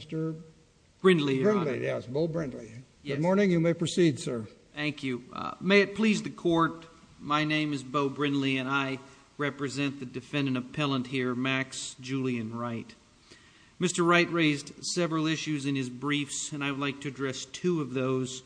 Mr. Brindley, your honor. Brindley, yes, Bo Brindley. Good morning. You may proceed, sir. Thank you. May it please the court, my name is Bo Brindley and I represent the defendant appellant here, Max Julian Wright. Mr. Wright raised several issues in his briefs and I would like to address two of those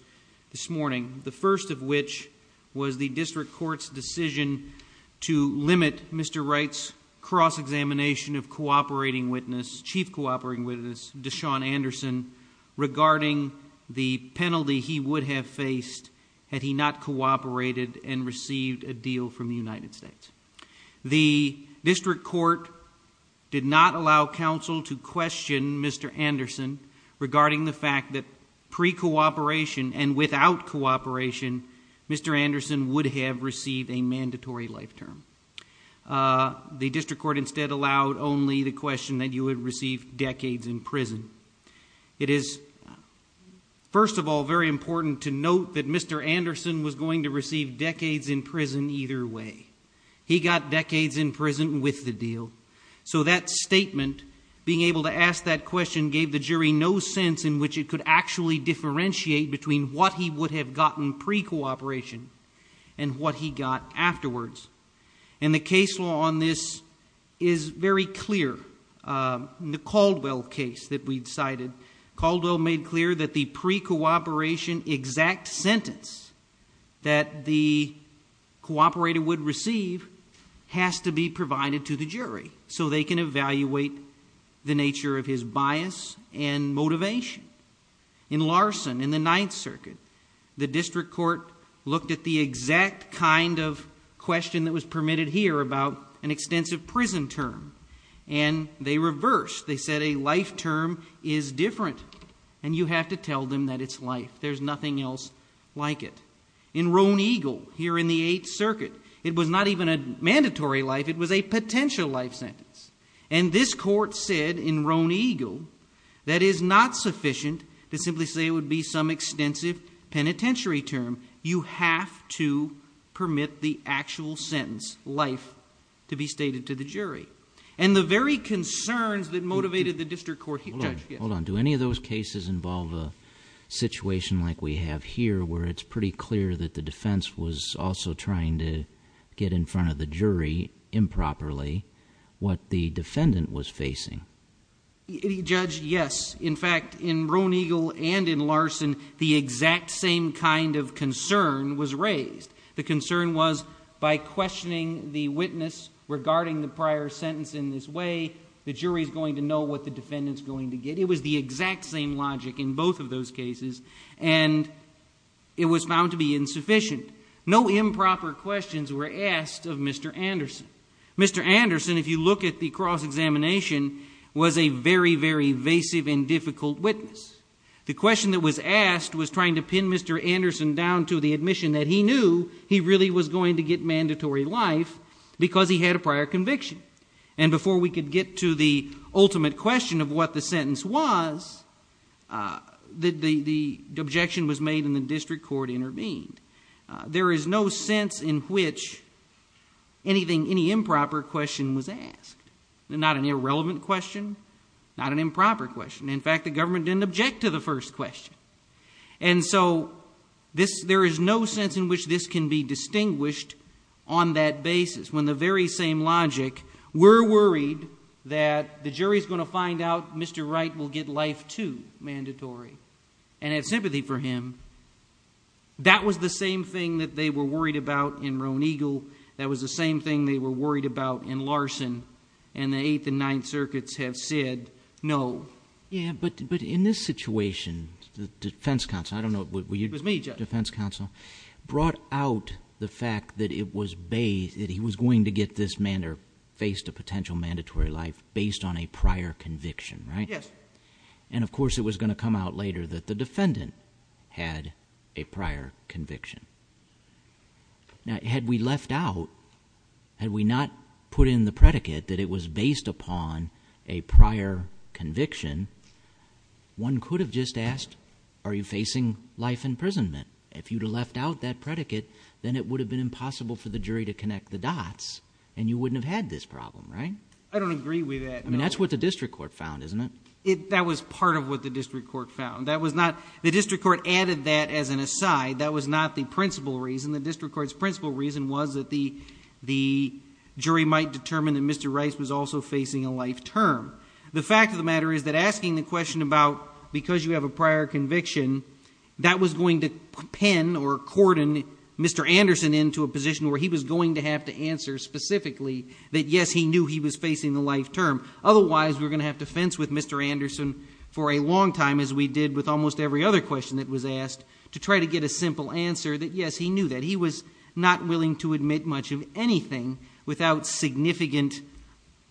this morning, the first of which was the district court's decision to limit Mr. Wright's cross-examination of cooperating witness, chief cooperating witness, Deshaun Anderson, regarding the penalty he would have faced had he not cooperated and received a deal from the United States. The district court did not allow counsel to question Mr. Anderson regarding the fact that pre-cooperation and without cooperation, Mr. Anderson would have received a you would receive decades in prison. It is, first of all, very important to note that Mr. Anderson was going to receive decades in prison either way. He got decades in prison with the deal, so that statement, being able to ask that question, gave the jury no sense in which it could actually differentiate between what he would have gotten pre-cooperation and what he got afterwards. And the case law on this is very clear. In the Caldwell case that we decided, Caldwell made clear that the pre-cooperation exact sentence that the cooperator would receive has to be provided to the jury so they can evaluate the nature of his bias and motivation. In Larson, in the Ninth Circuit, the district court looked at the exact kind of question that was permitted here about an extensive prison term and they reversed. They said a life term is different and you have to tell them that it's life. There's nothing else like it. In Roan Eagle, here in the Eighth Circuit, it was not even a mandatory life, it was a potential life sentence. And this court said in Roan Eagle that is not sufficient to simply say it would be some extensive penitentiary term. You have to permit the actual sentence, life, to be stated to the jury. And the very concerns that motivated the district court... Hold on, do any of those cases involve a situation like we have here where it's pretty clear that the defense was also trying to get in front of the jury improperly, what the defendant was facing? Judge, yes. In fact, in Roan Eagle and in Larson, the exact same kind of concern was raised. The concern was by questioning the witness regarding the prior sentence in this way, the jury is going to know what the defendant's going to get. It was the exact same logic in both of those cases and it was found to be insufficient. No improper questions were asked of Mr. Anderson. Mr. Anderson, if you look at the cross examination, was a very, very evasive and difficult witness. The question that was asked was trying to pin Mr. Anderson down to the admission that he knew he really was going to get mandatory life because he had a prior conviction. And before we could get to the ultimate question of what the sentence was, the objection was made and the district court intervened. There is no sense in which anything, any improper question was asked. Not an irrelevant question, not an improper question. In fact, the first question. And so there is no sense in which this can be distinguished on that basis. When the very same logic, we're worried that the jury is going to find out Mr. Wright will get life too, mandatory, and have sympathy for him. That was the same thing that they were worried about in Roan Eagle. That was the same thing they were worried about in Larson. And the Eighth and Ninth Circuits have said no. Yeah, but in this situation, the defense counsel, I don't know... It was me, Judge. Defense counsel brought out the fact that it was based, that he was going to get this man or faced a potential mandatory life based on a prior conviction, right? Yes. And of course, it was going to come out later that the defendant had a prior conviction. Now, had we left out, had we not put in the predicate that it was based upon a prior conviction, one could have just asked, are you facing life imprisonment? If you'd have left out that predicate, then it would have been impossible for the jury to connect the dots and you wouldn't have had this problem, right? I don't agree with that. I mean, that's what the district court found, isn't it? That was part of what the district court found. That was not... The district court added that as an aside. That was not the principal reason. The district court's principal reason was that the jury might determine that Mr. Anderson was facing life term. The fact of the matter is that asking the question about because you have a prior conviction, that was going to pin or cordon Mr. Anderson into a position where he was going to have to answer specifically that yes, he knew he was facing the life term. Otherwise, we're going to have to fence with Mr. Anderson for a long time as we did with almost every other question that was asked to try to get a simple answer that yes, he knew that. He was not willing to admit much of anything without significant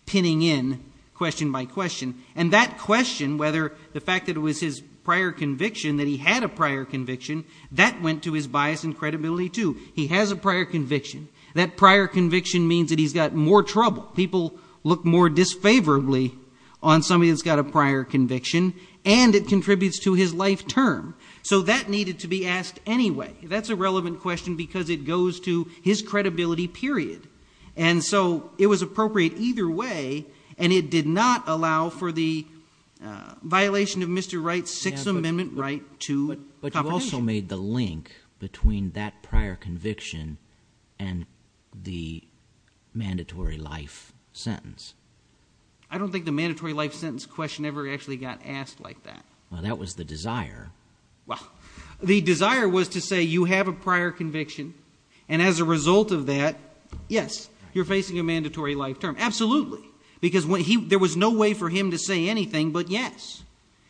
pinning in question by question. And that question, whether the fact that it was his prior conviction, that he had a prior conviction, that went to his bias and credibility too. He has a prior conviction. That prior conviction means that he's got more trouble. People look more disfavorably on somebody that's got a prior conviction and it contributes to his life term. So that needed to be asked anyway. That's a relevant question because it goes to his credibility, period. And so it was appropriate either way. And it did not allow for the violation of Mr. Wright's Sixth Amendment right to confidentiality. But you also made the link between that prior conviction and the mandatory life sentence. I don't think the mandatory life sentence question ever actually got asked like that. Well, that was the desire. Well, the desire was to say you have a prior conviction. And as a result of that, yes, you're facing a mandatory life term. Absolutely. Because there was no way for him to say anything but yes.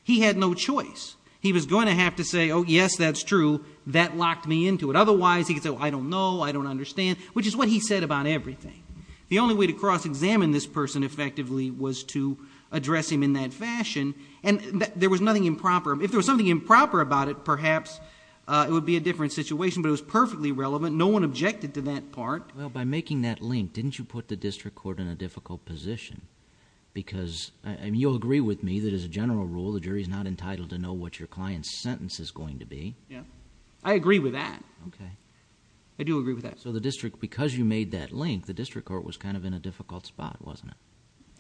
He had no choice. He was going to have to say, oh, yes, that's true. That locked me into it. Otherwise, he could say, oh, I don't know. I don't understand. Which is what he said about everything. The only way to cross-examine this person effectively was to address him in that fashion. And there was nothing improper. If there was something improper about it, perhaps it would be a different situation. But it was perfectly relevant. No one objected to that part. Well, by making that link, didn't you put the district court in a difficult position? Because you'll agree with me that as a general rule, the jury is not entitled to know what your client's sentence is going to be. Yeah. I agree with that. OK. I do agree with that. So the district, because you made that link, the district court was kind of in a difficult spot, wasn't it?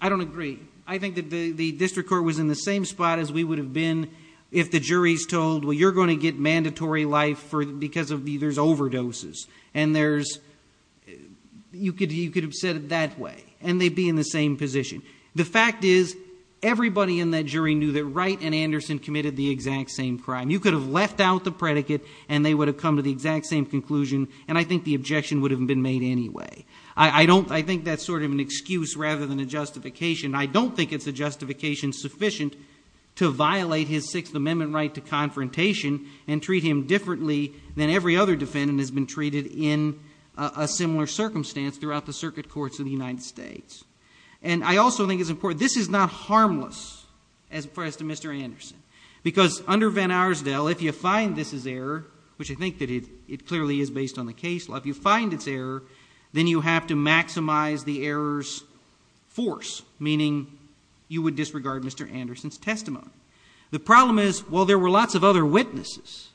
I don't agree. I think that the district court was in the same spot as we would have been if the jury's told, well, you're going to get mandatory life because there's overdoses. And you could have said it that way. And they'd be in the same position. The fact is, everybody in that jury knew that Wright and Anderson committed the exact same crime. You could have left out the predicate, and they would have come to the exact same conclusion. And I think the objection would have been made anyway. I think that's sort of an excuse rather than a justification. I don't think it's a justification sufficient to violate his Sixth Amendment right to confrontation and treat him differently than every other defendant has been treated in a similar circumstance throughout the circuit courts of the United States. And I also think it's important. This is not harmless as far as to Mr. Anderson. Because under Van Arsdale, if you find this is error, which I think that it clearly is based on the case law, if you find it's error, then you have to maximize the error's force, meaning you would disregard Mr. Anderson's testimony. The problem is, well, there were lots of other witnesses.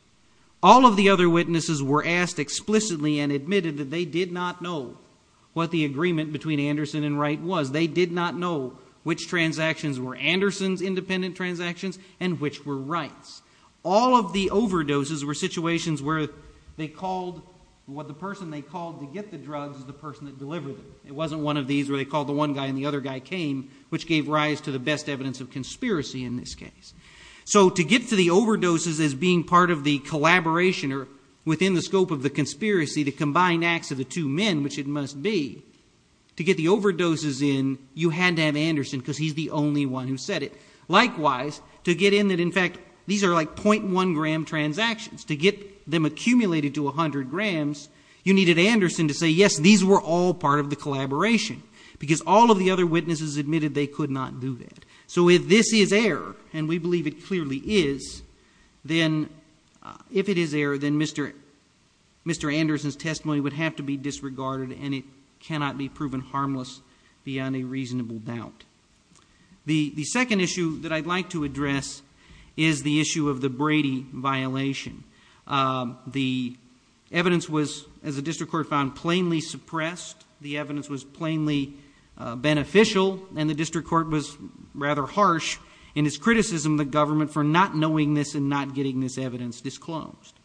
All of the other witnesses were asked explicitly and admitted that they did not know what the agreement between Anderson and Wright was. They did not know which transactions were Anderson's independent transactions and which were Wright's. All of the overdoses were situations where they called, what the person they called to get the drugs is the person that delivered them. It wasn't one of these where they called the one guy and the other guy came, which gave rise to the best evidence of conspiracy in this case. So to get to the overdoses as being part of the collaboration or within the scope of the conspiracy to combine acts of the two men, which it must be, to get the overdoses in, you had to have Anderson because he's the only one who said it. Likewise, to get in that, in fact, these are like 0.1 gram transactions. To get them accumulated to 100 grams, you needed Anderson to say, yes, these were all part of the collaboration because all of the other witnesses admitted they could not do that. So if this is error, and we believe it clearly is, then if it is error, then Mr. Anderson's testimony would have to be disregarded and it cannot be proven harmless beyond a reasonable doubt. The second issue that I'd like to address is the issue of the Brady violation. The evidence was, as the district court found, plainly suppressed. The evidence was plainly beneficial, and the district court was rather harsh in its criticism of the government for not knowing this and not getting this evidence disclosed.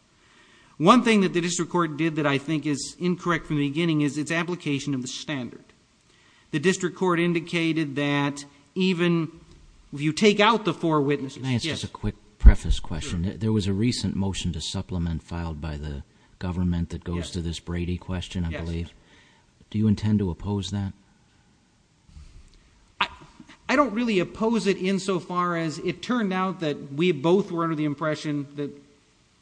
One thing that the district court did that I think is incorrect from the beginning is its application of the standard. The district court indicated that even if you take out the four witnesses- Can I ask just a quick preface question? There was a recent motion to supplement filed by the government that goes to this Brady question, I believe. Do you intend to oppose that? I don't really oppose it insofar as it turned out that we both were under the impression that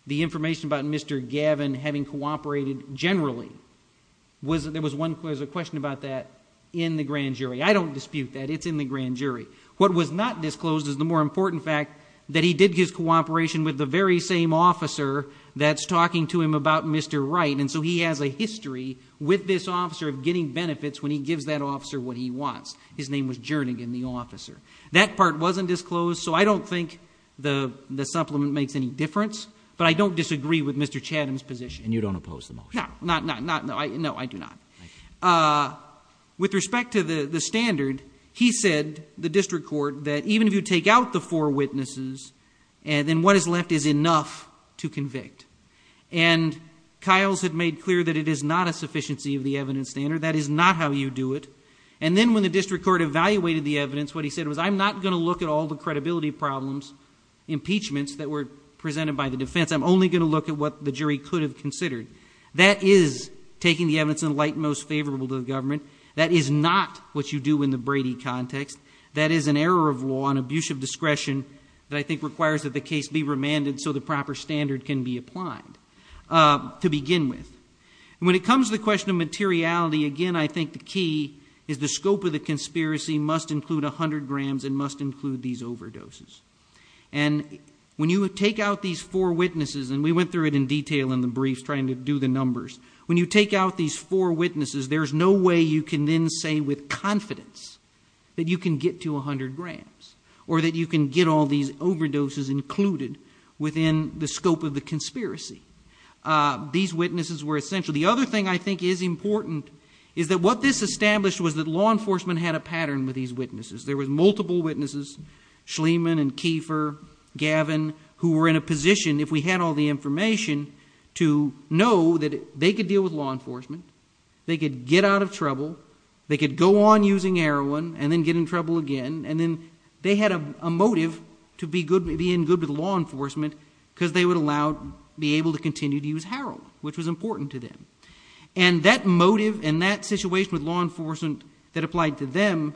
the information about Mr. Gavin having cooperated generally, there was a question about that in the grand jury. I don't dispute that. It's in the grand jury. What was not disclosed is the more important fact that he did his cooperation with the very same officer that's talking to him about Mr. Wright, and so he has a history with this officer of getting benefits when he gives that officer what he wants. His name was Jernigan, the officer. That part wasn't disclosed, so I don't think the supplement makes any difference, but I don't disagree with Mr. Chatham's position. And you don't oppose the motion? No, I do not. With respect to the standard, he said, the district court, that even if you take out the four witnesses, then what is left is enough to convict. And Kyles had made clear that it is not a sufficiency of the evidence standard. That is not how you do it. And then when the district court evaluated the evidence, what he said was, I'm not going to look at all the credibility problems, impeachments that were presented by the defense. That is taking the evidence in light most favorable to the government. That is not what you do in the Brady context. That is an error of law and abuse of discretion that I think requires that the case be remanded so the proper standard can be applied to begin with. When it comes to the question of materiality, again, I think the key is the scope of the conspiracy must include 100 grams and must include these overdoses. And when you take out these four witnesses, and we went through it in detail in the briefs to do the numbers, when you take out these four witnesses, there's no way you can then say with confidence that you can get to 100 grams or that you can get all these overdoses included within the scope of the conspiracy. These witnesses were essential. The other thing I think is important is that what this established was that law enforcement had a pattern with these witnesses. There were multiple witnesses, Schlieman and Kiefer, Gavin, who were in a position, if we had all the information, to know that they could deal with law enforcement, they could get out of trouble, they could go on using heroin and then get in trouble again, and then they had a motive to be in good with law enforcement because they would be able to continue to use heroin, which was important to them. And that motive and that situation with law enforcement that applied to them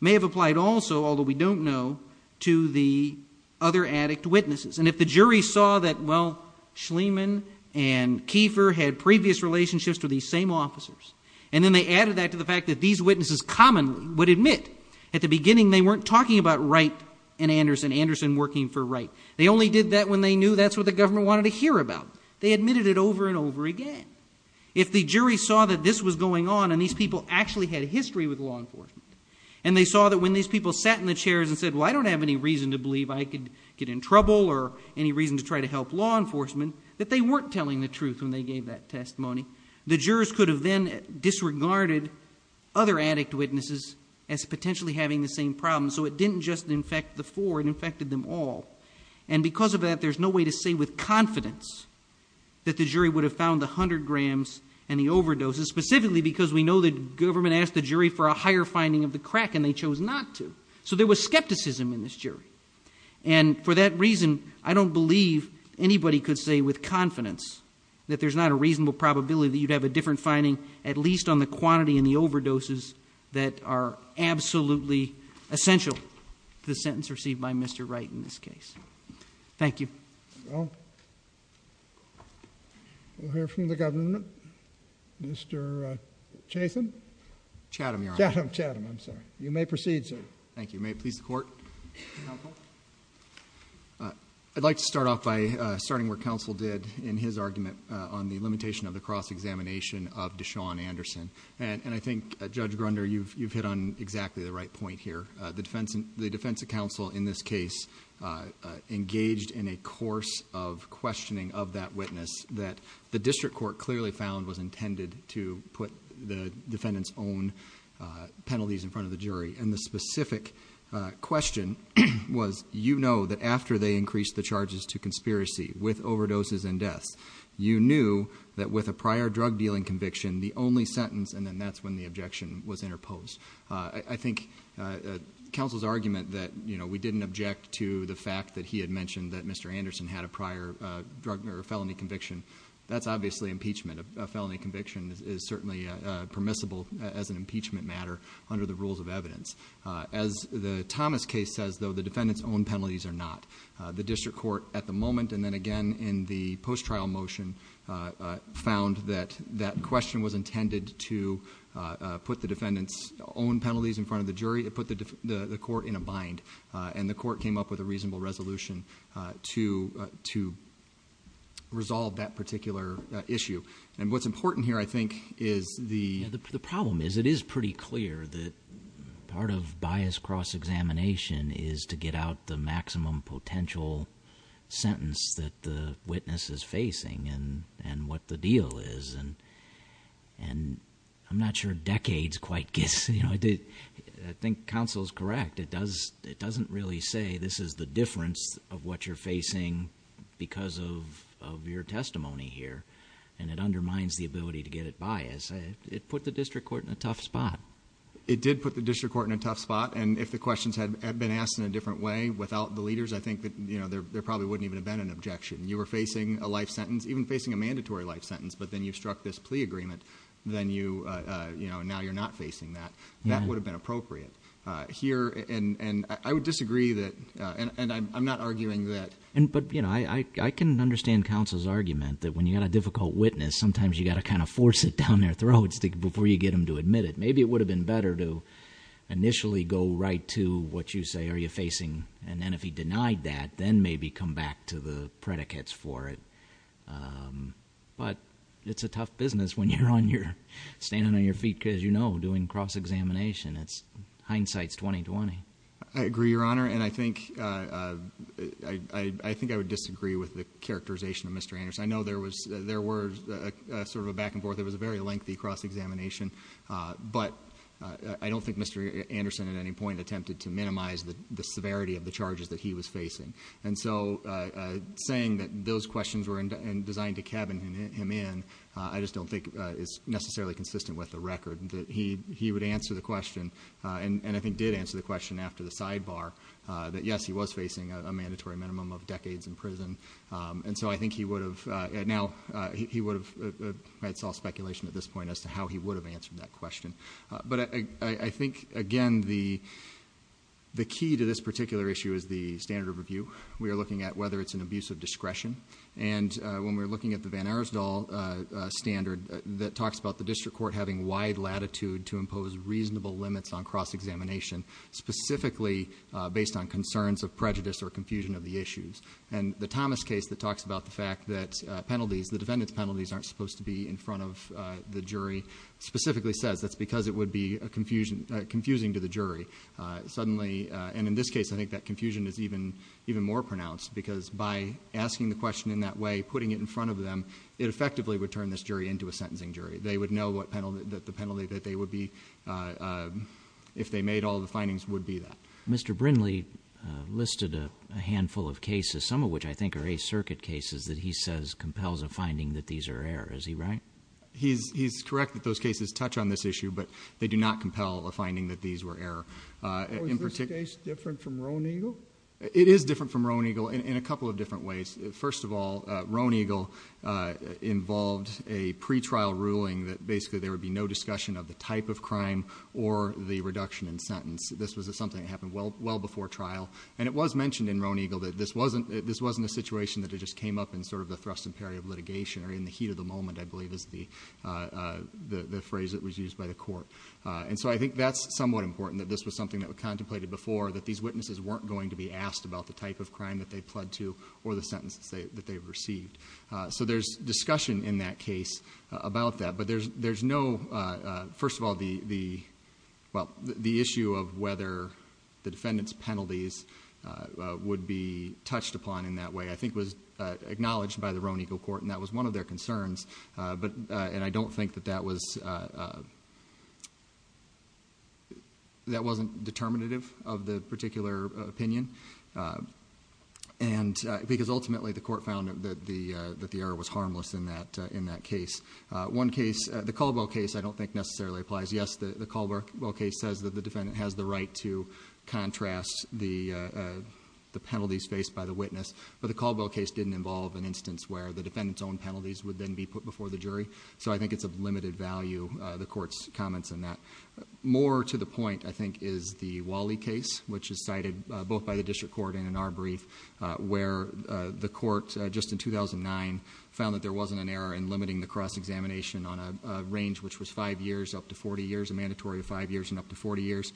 may have applied also, although we don't know, to the other addict witnesses. And if the jury saw that, well, Schlieman and Kiefer had previous relationships to these same officers, and then they added that to the fact that these witnesses commonly would admit at the beginning they weren't talking about Wright and Anderson, Anderson working for Wright. They only did that when they knew that's what the government wanted to hear about. They admitted it over and over again. If the jury saw that this was going on and these people actually had history with law enforcement, and they saw that when these people sat in the chairs and said, well, I any reason to try to help law enforcement, that they weren't telling the truth when they gave that testimony. The jurors could have then disregarded other addict witnesses as potentially having the same problem. So it didn't just infect the four. It infected them all. And because of that, there's no way to say with confidence that the jury would have found the 100 grams and the overdoses, specifically because we know the government asked the jury for a higher finding of the crack, and they chose not to. So there was skepticism in this jury. And for that reason, I don't believe anybody could say with confidence that there's not a reasonable probability that you'd have a different finding, at least on the quantity and the overdoses that are absolutely essential to the sentence received by Mr. Wright in this case. Thank you. We'll hear from the government, Mr. Chatham. Chatham, your honor. Chatham, Chatham, I'm sorry. You may proceed, sir. Thank you. May it please the court. I'd like to start off by starting where counsel did in his argument on the limitation of the cross-examination of Deshaun Anderson. And I think, Judge Grunder, you've hit on exactly the right point here. The defense counsel in this case engaged in a course of questioning of that witness that the district court clearly found was intended to put the defendant's own penalties in front of the jury. And the specific question was, you know that after they increased the charges to conspiracy with overdoses and deaths, you knew that with a prior drug dealing conviction, the only sentence, and then that's when the objection was interposed. I think counsel's argument that we didn't object to the fact that he had mentioned that Mr. Anderson had a prior drug or felony conviction, that's obviously impeachment. A felony conviction is certainly permissible as an impeachment matter under the rules of evidence. As the Thomas case says, though, the defendant's own penalties are not. The district court at the moment, and then again in the post-trial motion, found that that question was intended to put the defendant's own penalties in front of the jury. It put the court in a bind. And the court came up with a reasonable resolution to resolve that particular issue. And what's important here, I think, is the... Part of bias cross-examination is to get out the maximum potential sentence that the witness is facing and what the deal is. And I'm not sure decades quite gets... You know, I think counsel's correct. It doesn't really say this is the difference of what you're facing because of your testimony here. And it undermines the ability to get it biased. It put the district court in a tough spot. It did put the district court in a tough spot. And if the questions had been asked in a different way without the leaders, I think that, you know, there probably wouldn't even have been an objection. You were facing a life sentence, even facing a mandatory life sentence. But then you struck this plea agreement. Then you, you know, now you're not facing that. That would have been appropriate here. And I would disagree that... And I'm not arguing that... But, you know, I can understand counsel's argument that when you got a difficult witness, sometimes you got to kind of force it down their throat before you get them to admit it. Maybe it would have been better to initially go right to what you say are you facing. And then if he denied that, then maybe come back to the predicates for it. But it's a tough business when you're on your... Standing on your feet because, you know, doing cross-examination. It's... Hindsight's 20-20. I agree, Your Honor. And I think... I think I would disagree with the characterization of Mr. Anderson. I know there was... There were sort of a back and forth. It was a very lengthy cross-examination. But I don't think Mr. Anderson at any point attempted to minimize the severity of the charges that he was facing. And so saying that those questions were designed to cabin him in, I just don't think is necessarily consistent with the record that he would answer the question, and I think did answer the question after the sidebar, that yes, he was facing a mandatory minimum of decades in prison. And so I think he would have... Answered that question. But I think, again, the key to this particular issue is the standard of review. We are looking at whether it's an abuse of discretion. And when we're looking at the Van Aresdal standard that talks about the district court having wide latitude to impose reasonable limits on cross-examination, specifically based on concerns of prejudice or confusion of the issues. And the Thomas case that talks about the fact that penalties, the defendant's penalties aren't supposed to be in front of the jury, specifically says that's because it would be confusing to the jury. Suddenly... And in this case, I think that confusion is even more pronounced because by asking the question in that way, putting it in front of them, it effectively would turn this jury into a sentencing jury. They would know what penalty... The penalty that they would be... If they made all the findings would be that. Mr. Brindley listed a handful of cases, some of which I think are a circuit cases that compels a finding that these are error. Is he right? He's correct that those cases touch on this issue, but they do not compel a finding that these were error. Was this case different from Roan Eagle? It is different from Roan Eagle in a couple of different ways. First of all, Roan Eagle involved a pretrial ruling that basically there would be no discussion of the type of crime or the reduction in sentence. This was something that happened well before trial. And it was mentioned in Roan Eagle that this wasn't a situation that it just came up and the thrust and parry of litigation or in the heat of the moment, I believe is the phrase that was used by the court. I think that's somewhat important that this was something that we contemplated before, that these witnesses weren't going to be asked about the type of crime that they pled to or the sentences that they've received. There's discussion in that case about that, but there's no... First of all, the issue of whether the defendant's penalties would be touched upon in that way, I think was acknowledged by the Roan Eagle Court and that was one of their concerns. And I don't think that that wasn't determinative of the particular opinion. Because ultimately, the court found that the error was harmless in that case. One case, the Caldwell case, I don't think necessarily applies. Yes, the Caldwell case says that the defendant has the right to contrast the penalties faced by the witness, but the Caldwell case didn't involve an instance where the defendant's own penalties would then be put before the jury. So I think it's of limited value, the court's comments on that. More to the point, I think, is the Wally case, which is cited both by the district court and in our brief, where the court, just in 2009, found that there wasn't an error in limiting the cross-examination on a range which was five years up to 40 years, a mandatory five years and up to 40 years.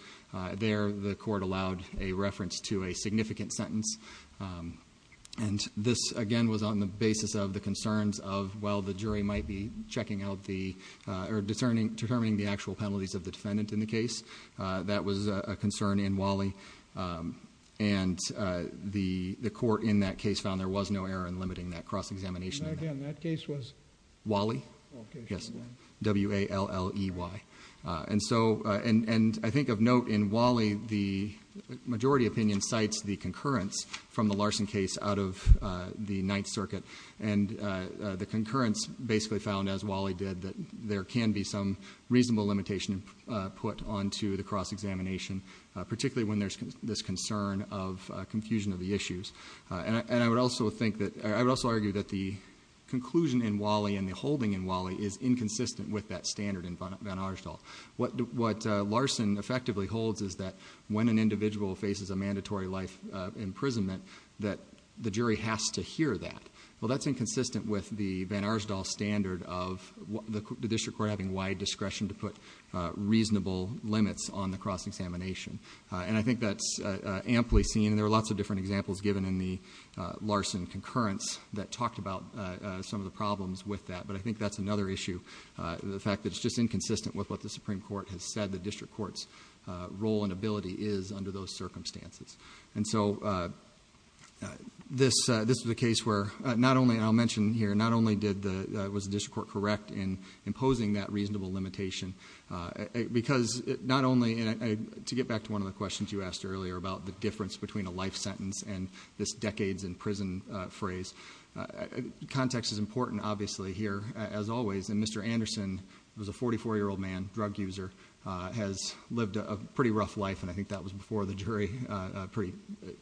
There, the court allowed a reference to a significant sentence. And this, again, was on the basis of the concerns of, well, the jury might be checking out the, or determining the actual penalties of the defendant in the case. That was a concern in Wally. And the court in that case found there was no error in limiting that cross-examination. And again, that case was? Wally. Yes, W-A-L-L-E-Y. And so, and I think of note in Wally, the majority opinion cites the concurrence from the Larson case out of the Ninth Circuit, and the concurrence basically found, as Wally did, that there can be some reasonable limitation put onto the cross-examination, particularly when there's this concern of confusion of the issues. And I would also think that, I would also argue that the conclusion in Wally and the Larson case, what Larson effectively holds is that when an individual faces a mandatory life imprisonment, that the jury has to hear that. Well, that's inconsistent with the Van Arsdal standard of the district court having wide discretion to put reasonable limits on the cross-examination. And I think that's amply seen, and there are lots of different examples given in the Larson concurrence that talked about some of the problems with that. But I think that's another issue, the fact that it's just inconsistent with what the Supreme Court has said the district court's role and ability is under those circumstances. And so this is a case where not only, and I'll mention here, not only was the district court correct in imposing that reasonable limitation, because not only, and to get back to one of the questions you asked earlier about the difference between a life sentence and this decades in prison phrase, context is important, obviously, here, as always. And Mr. Anderson, who's a 44-year-old man, drug user, has lived a pretty rough life, and I think that was before the jury, pretty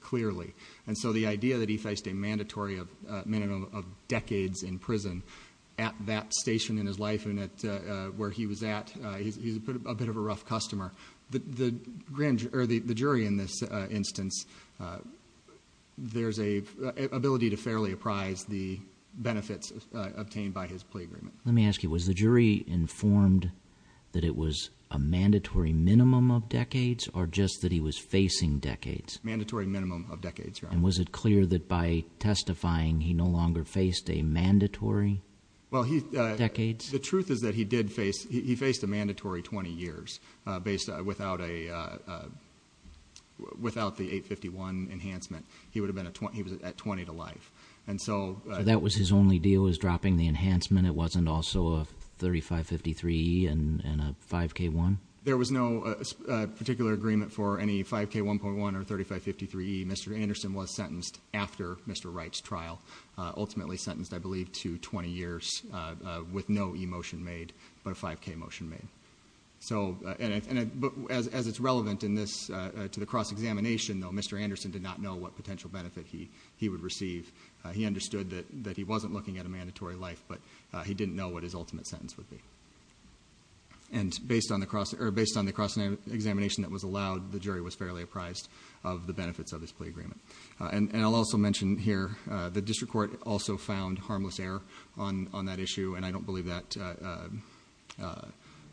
clearly. And so the idea that he faced a mandatory minimum of decades in prison at that station in his life and where he was at, he's a bit of a rough customer. The jury in this instance, there's an ability to fairly apprise the benefits obtained by his plea agreement. Let me ask you, was the jury informed that it was a mandatory minimum of decades, or just that he was facing decades? Mandatory minimum of decades, Your Honor. And was it clear that by testifying, he no longer faced a mandatory decades? The truth is that he did face, he faced a mandatory 20 years without the 851 enhancement. He was at 20 to life. And so- That was his only deal, was dropping the enhancement. It wasn't also a 3553E and a 5K1? There was no particular agreement for any 5K1.1 or 3553E. Mr. Anderson was sentenced after Mr. Wright's trial, ultimately sentenced, I believe, to 20 years with no e-motion made, but a 5K motion made. So, and as it's relevant in this, to the cross-examination, though, Mr. Anderson did not know what potential benefit he would receive. He understood that he wasn't looking at a mandatory life, but he didn't know what his ultimate sentence would be. And based on the cross-examination that was allowed, the jury was fairly apprised of the benefits of this plea agreement. And I'll also mention here, the district court also found harmless error on that issue, and I don't believe that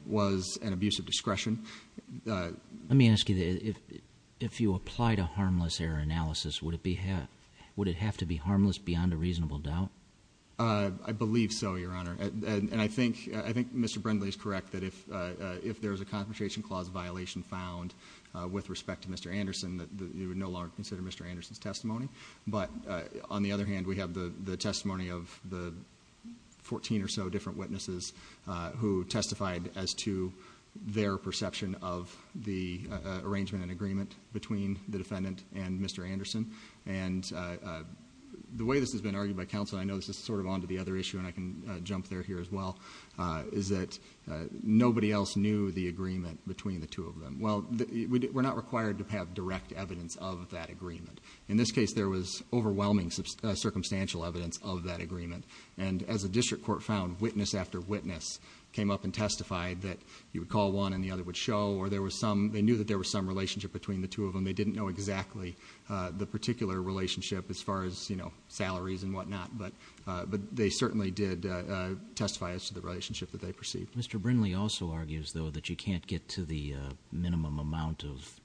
was an abuse of discretion. Let me ask you, if you applied a harmless error analysis, would it have to be harmless beyond a reasonable doubt? I believe so, Your Honor. And I think Mr. Brindley is correct that if there was a Confrontation Clause violation found with respect to Mr. Anderson, that you would no longer consider Mr. Anderson's testimony. But on the other hand, we have the testimony of the 14 or so different witnesses who testified as to their perception of the arrangement and agreement between the defendant and Mr. Anderson. And the way this has been argued by counsel, and I know this is sort of on to the other issue, and I can jump there here as well, is that nobody else knew the agreement between the two of them. Well, we're not required to have direct evidence of that agreement. In this case, there was overwhelming circumstantial evidence of that agreement. And as a district court found, witness after witness came up and testified that you would call one and the other would show, or they knew that there was some relationship between the two of them. They didn't know exactly the particular relationship as far as salaries and whatnot, but they certainly did testify as to the relationship that they perceived. Mr. Brindley also argues, though, that you can't get to the minimum amount of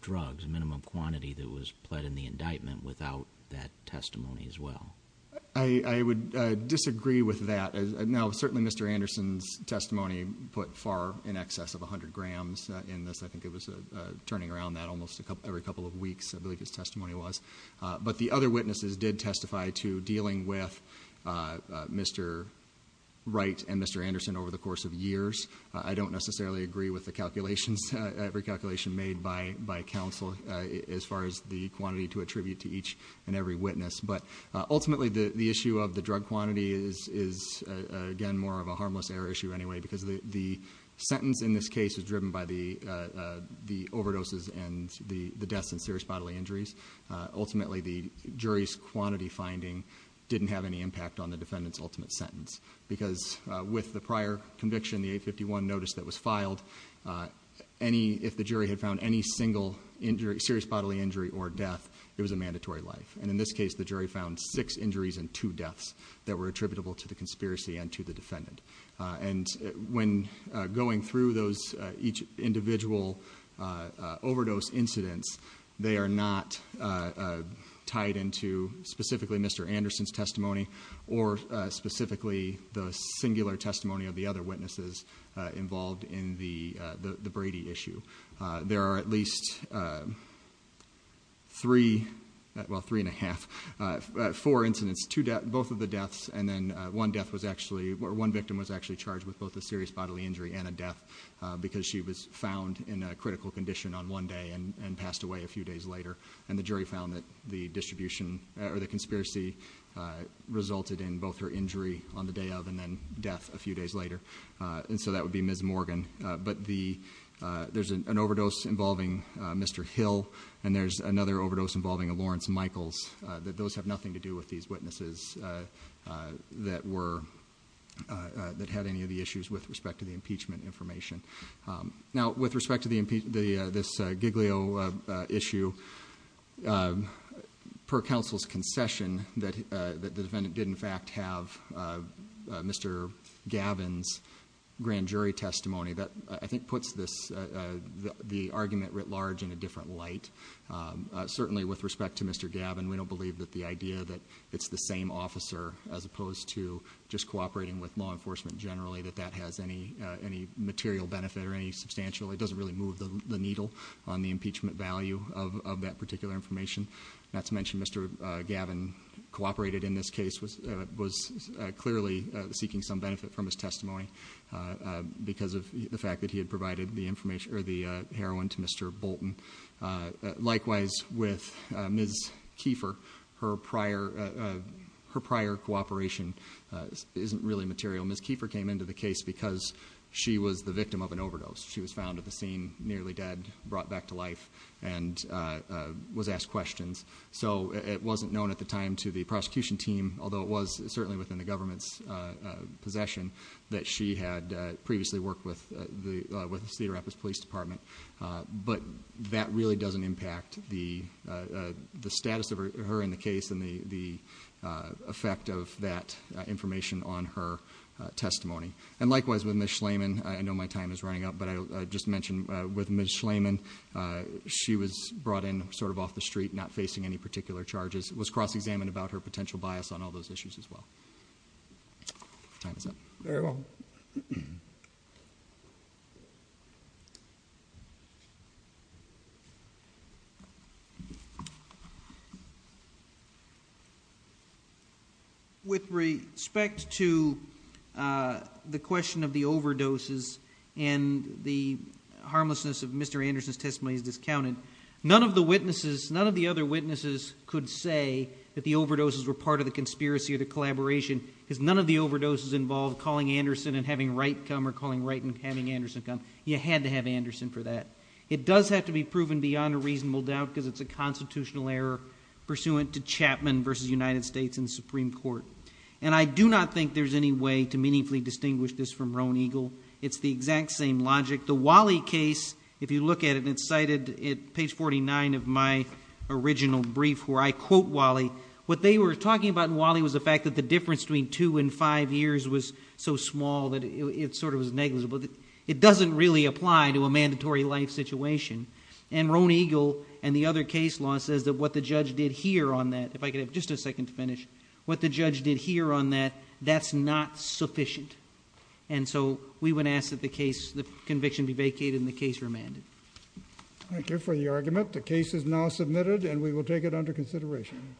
drugs, minimum quantity, that was pled in the indictment without that testimony as well. I would disagree with that. Now, certainly Mr. Anderson's testimony put far in excess of 100 grams in this. I think it was turning around that almost every couple of weeks, I believe his testimony was. But the other witnesses did testify to dealing with Mr. Wright and Mr. Anderson over the course of years. I don't necessarily agree with the calculations, every calculation made by counsel as far as the quantity to attribute to each and every witness. But ultimately, the issue of the drug quantity is, again, more of a harmless error issue anyway, because the sentence in this case is driven by the overdoses and the deaths and serious bodily injuries. Ultimately, the jury's quantity finding didn't have any impact on the defendant's ultimate sentence, because with the prior conviction, the 851 notice that was filed, if the jury had found any single serious bodily injury or death, it was a mandatory life. In this case, the jury found six injuries and two deaths that were attributable to the conspiracy and to the defendant. When going through each individual overdose incidents, they are not tied into specifically Mr. Anderson's testimony or specifically the singular testimony of the other witnesses involved in the Brady issue. There are at least three, well, three and a half, four incidents, both of the deaths, and then one death was actually, or one victim was actually charged with both a serious bodily injury and a death, because she was found in a critical condition on one day and passed away a few days later. And the jury found that the distribution or the conspiracy resulted in both her injury on the day of and then death a few days later. And so that would be Ms. Morgan. But there's an overdose involving Mr. Hill, and there's another overdose involving Lawrence Michaels, that those have nothing to do with these witnesses that had any of the issues with respect to the impeachment information. Now, with respect to this Giglio issue, per counsel's concession that the defendant did in fact have Mr. Gavin's grand jury testimony, that I think puts the argument writ large in a different light. Certainly with respect to Mr. Gavin, we don't believe that the idea that it's the same officer as opposed to just cooperating with law enforcement generally, that that has any material benefit or any substantial, it doesn't really move the needle on the impeachment value of that particular information. Not to mention Mr. Gavin cooperated in this case, was clearly seeking some benefit from his testimony because of the fact that he had provided the information or the heroin to Mr. Bolton. Likewise, with Ms. Kiefer, her prior cooperation isn't really material. Ms. Kiefer came into the case because she was the victim of an overdose. She was found at the scene nearly dead, brought back to life, and was asked questions. So it wasn't known at the time to the prosecution team, although it was certainly within the government's possession, that she had previously worked with the Cedar Rapids Police Department. But that really doesn't impact the status of her in the case and the effect of that information on her testimony. And likewise, with Ms. Schlamann, I know my time is running out, but I'll just mention with Ms. Schlamann, she was brought in sort of off the street, not facing any particular charges, was cross-examined about her potential bias on all those issues as well. Time is up. Very well. With respect to the question of the overdoses and the harmlessness of Mr. Anderson's testimony is discounted, none of the witnesses, none of the other witnesses could say that the overdoses were part of the conspiracy or the collaboration because none of the overdoses involved calling Anderson and having Wright come or calling Wright and having Anderson come. You had to have Anderson for that. It does have to be proven beyond a reasonable doubt because it's a constitutional error pursuant to Chapman v. United States in the Supreme Court. And I do not think there's any way to meaningfully distinguish this from Roan Eagle. It's the exact same logic. The Wally case, if you look at it, and it's cited at page 49 of my original brief where I quote Wally, what they were talking about in Wally was the fact that the difference between two and five years was so small that it sort of was negligible. It doesn't really apply to a mandatory life situation. And Roan Eagle and the other case law says that what the judge did here on that, if I could have just a second to finish, what the judge did here on that, that's not sufficient. And so we would ask that the case, the conviction be vacated and the case remanded. Thank you for the argument. The case is now submitted and we will take it under consideration. Thank you.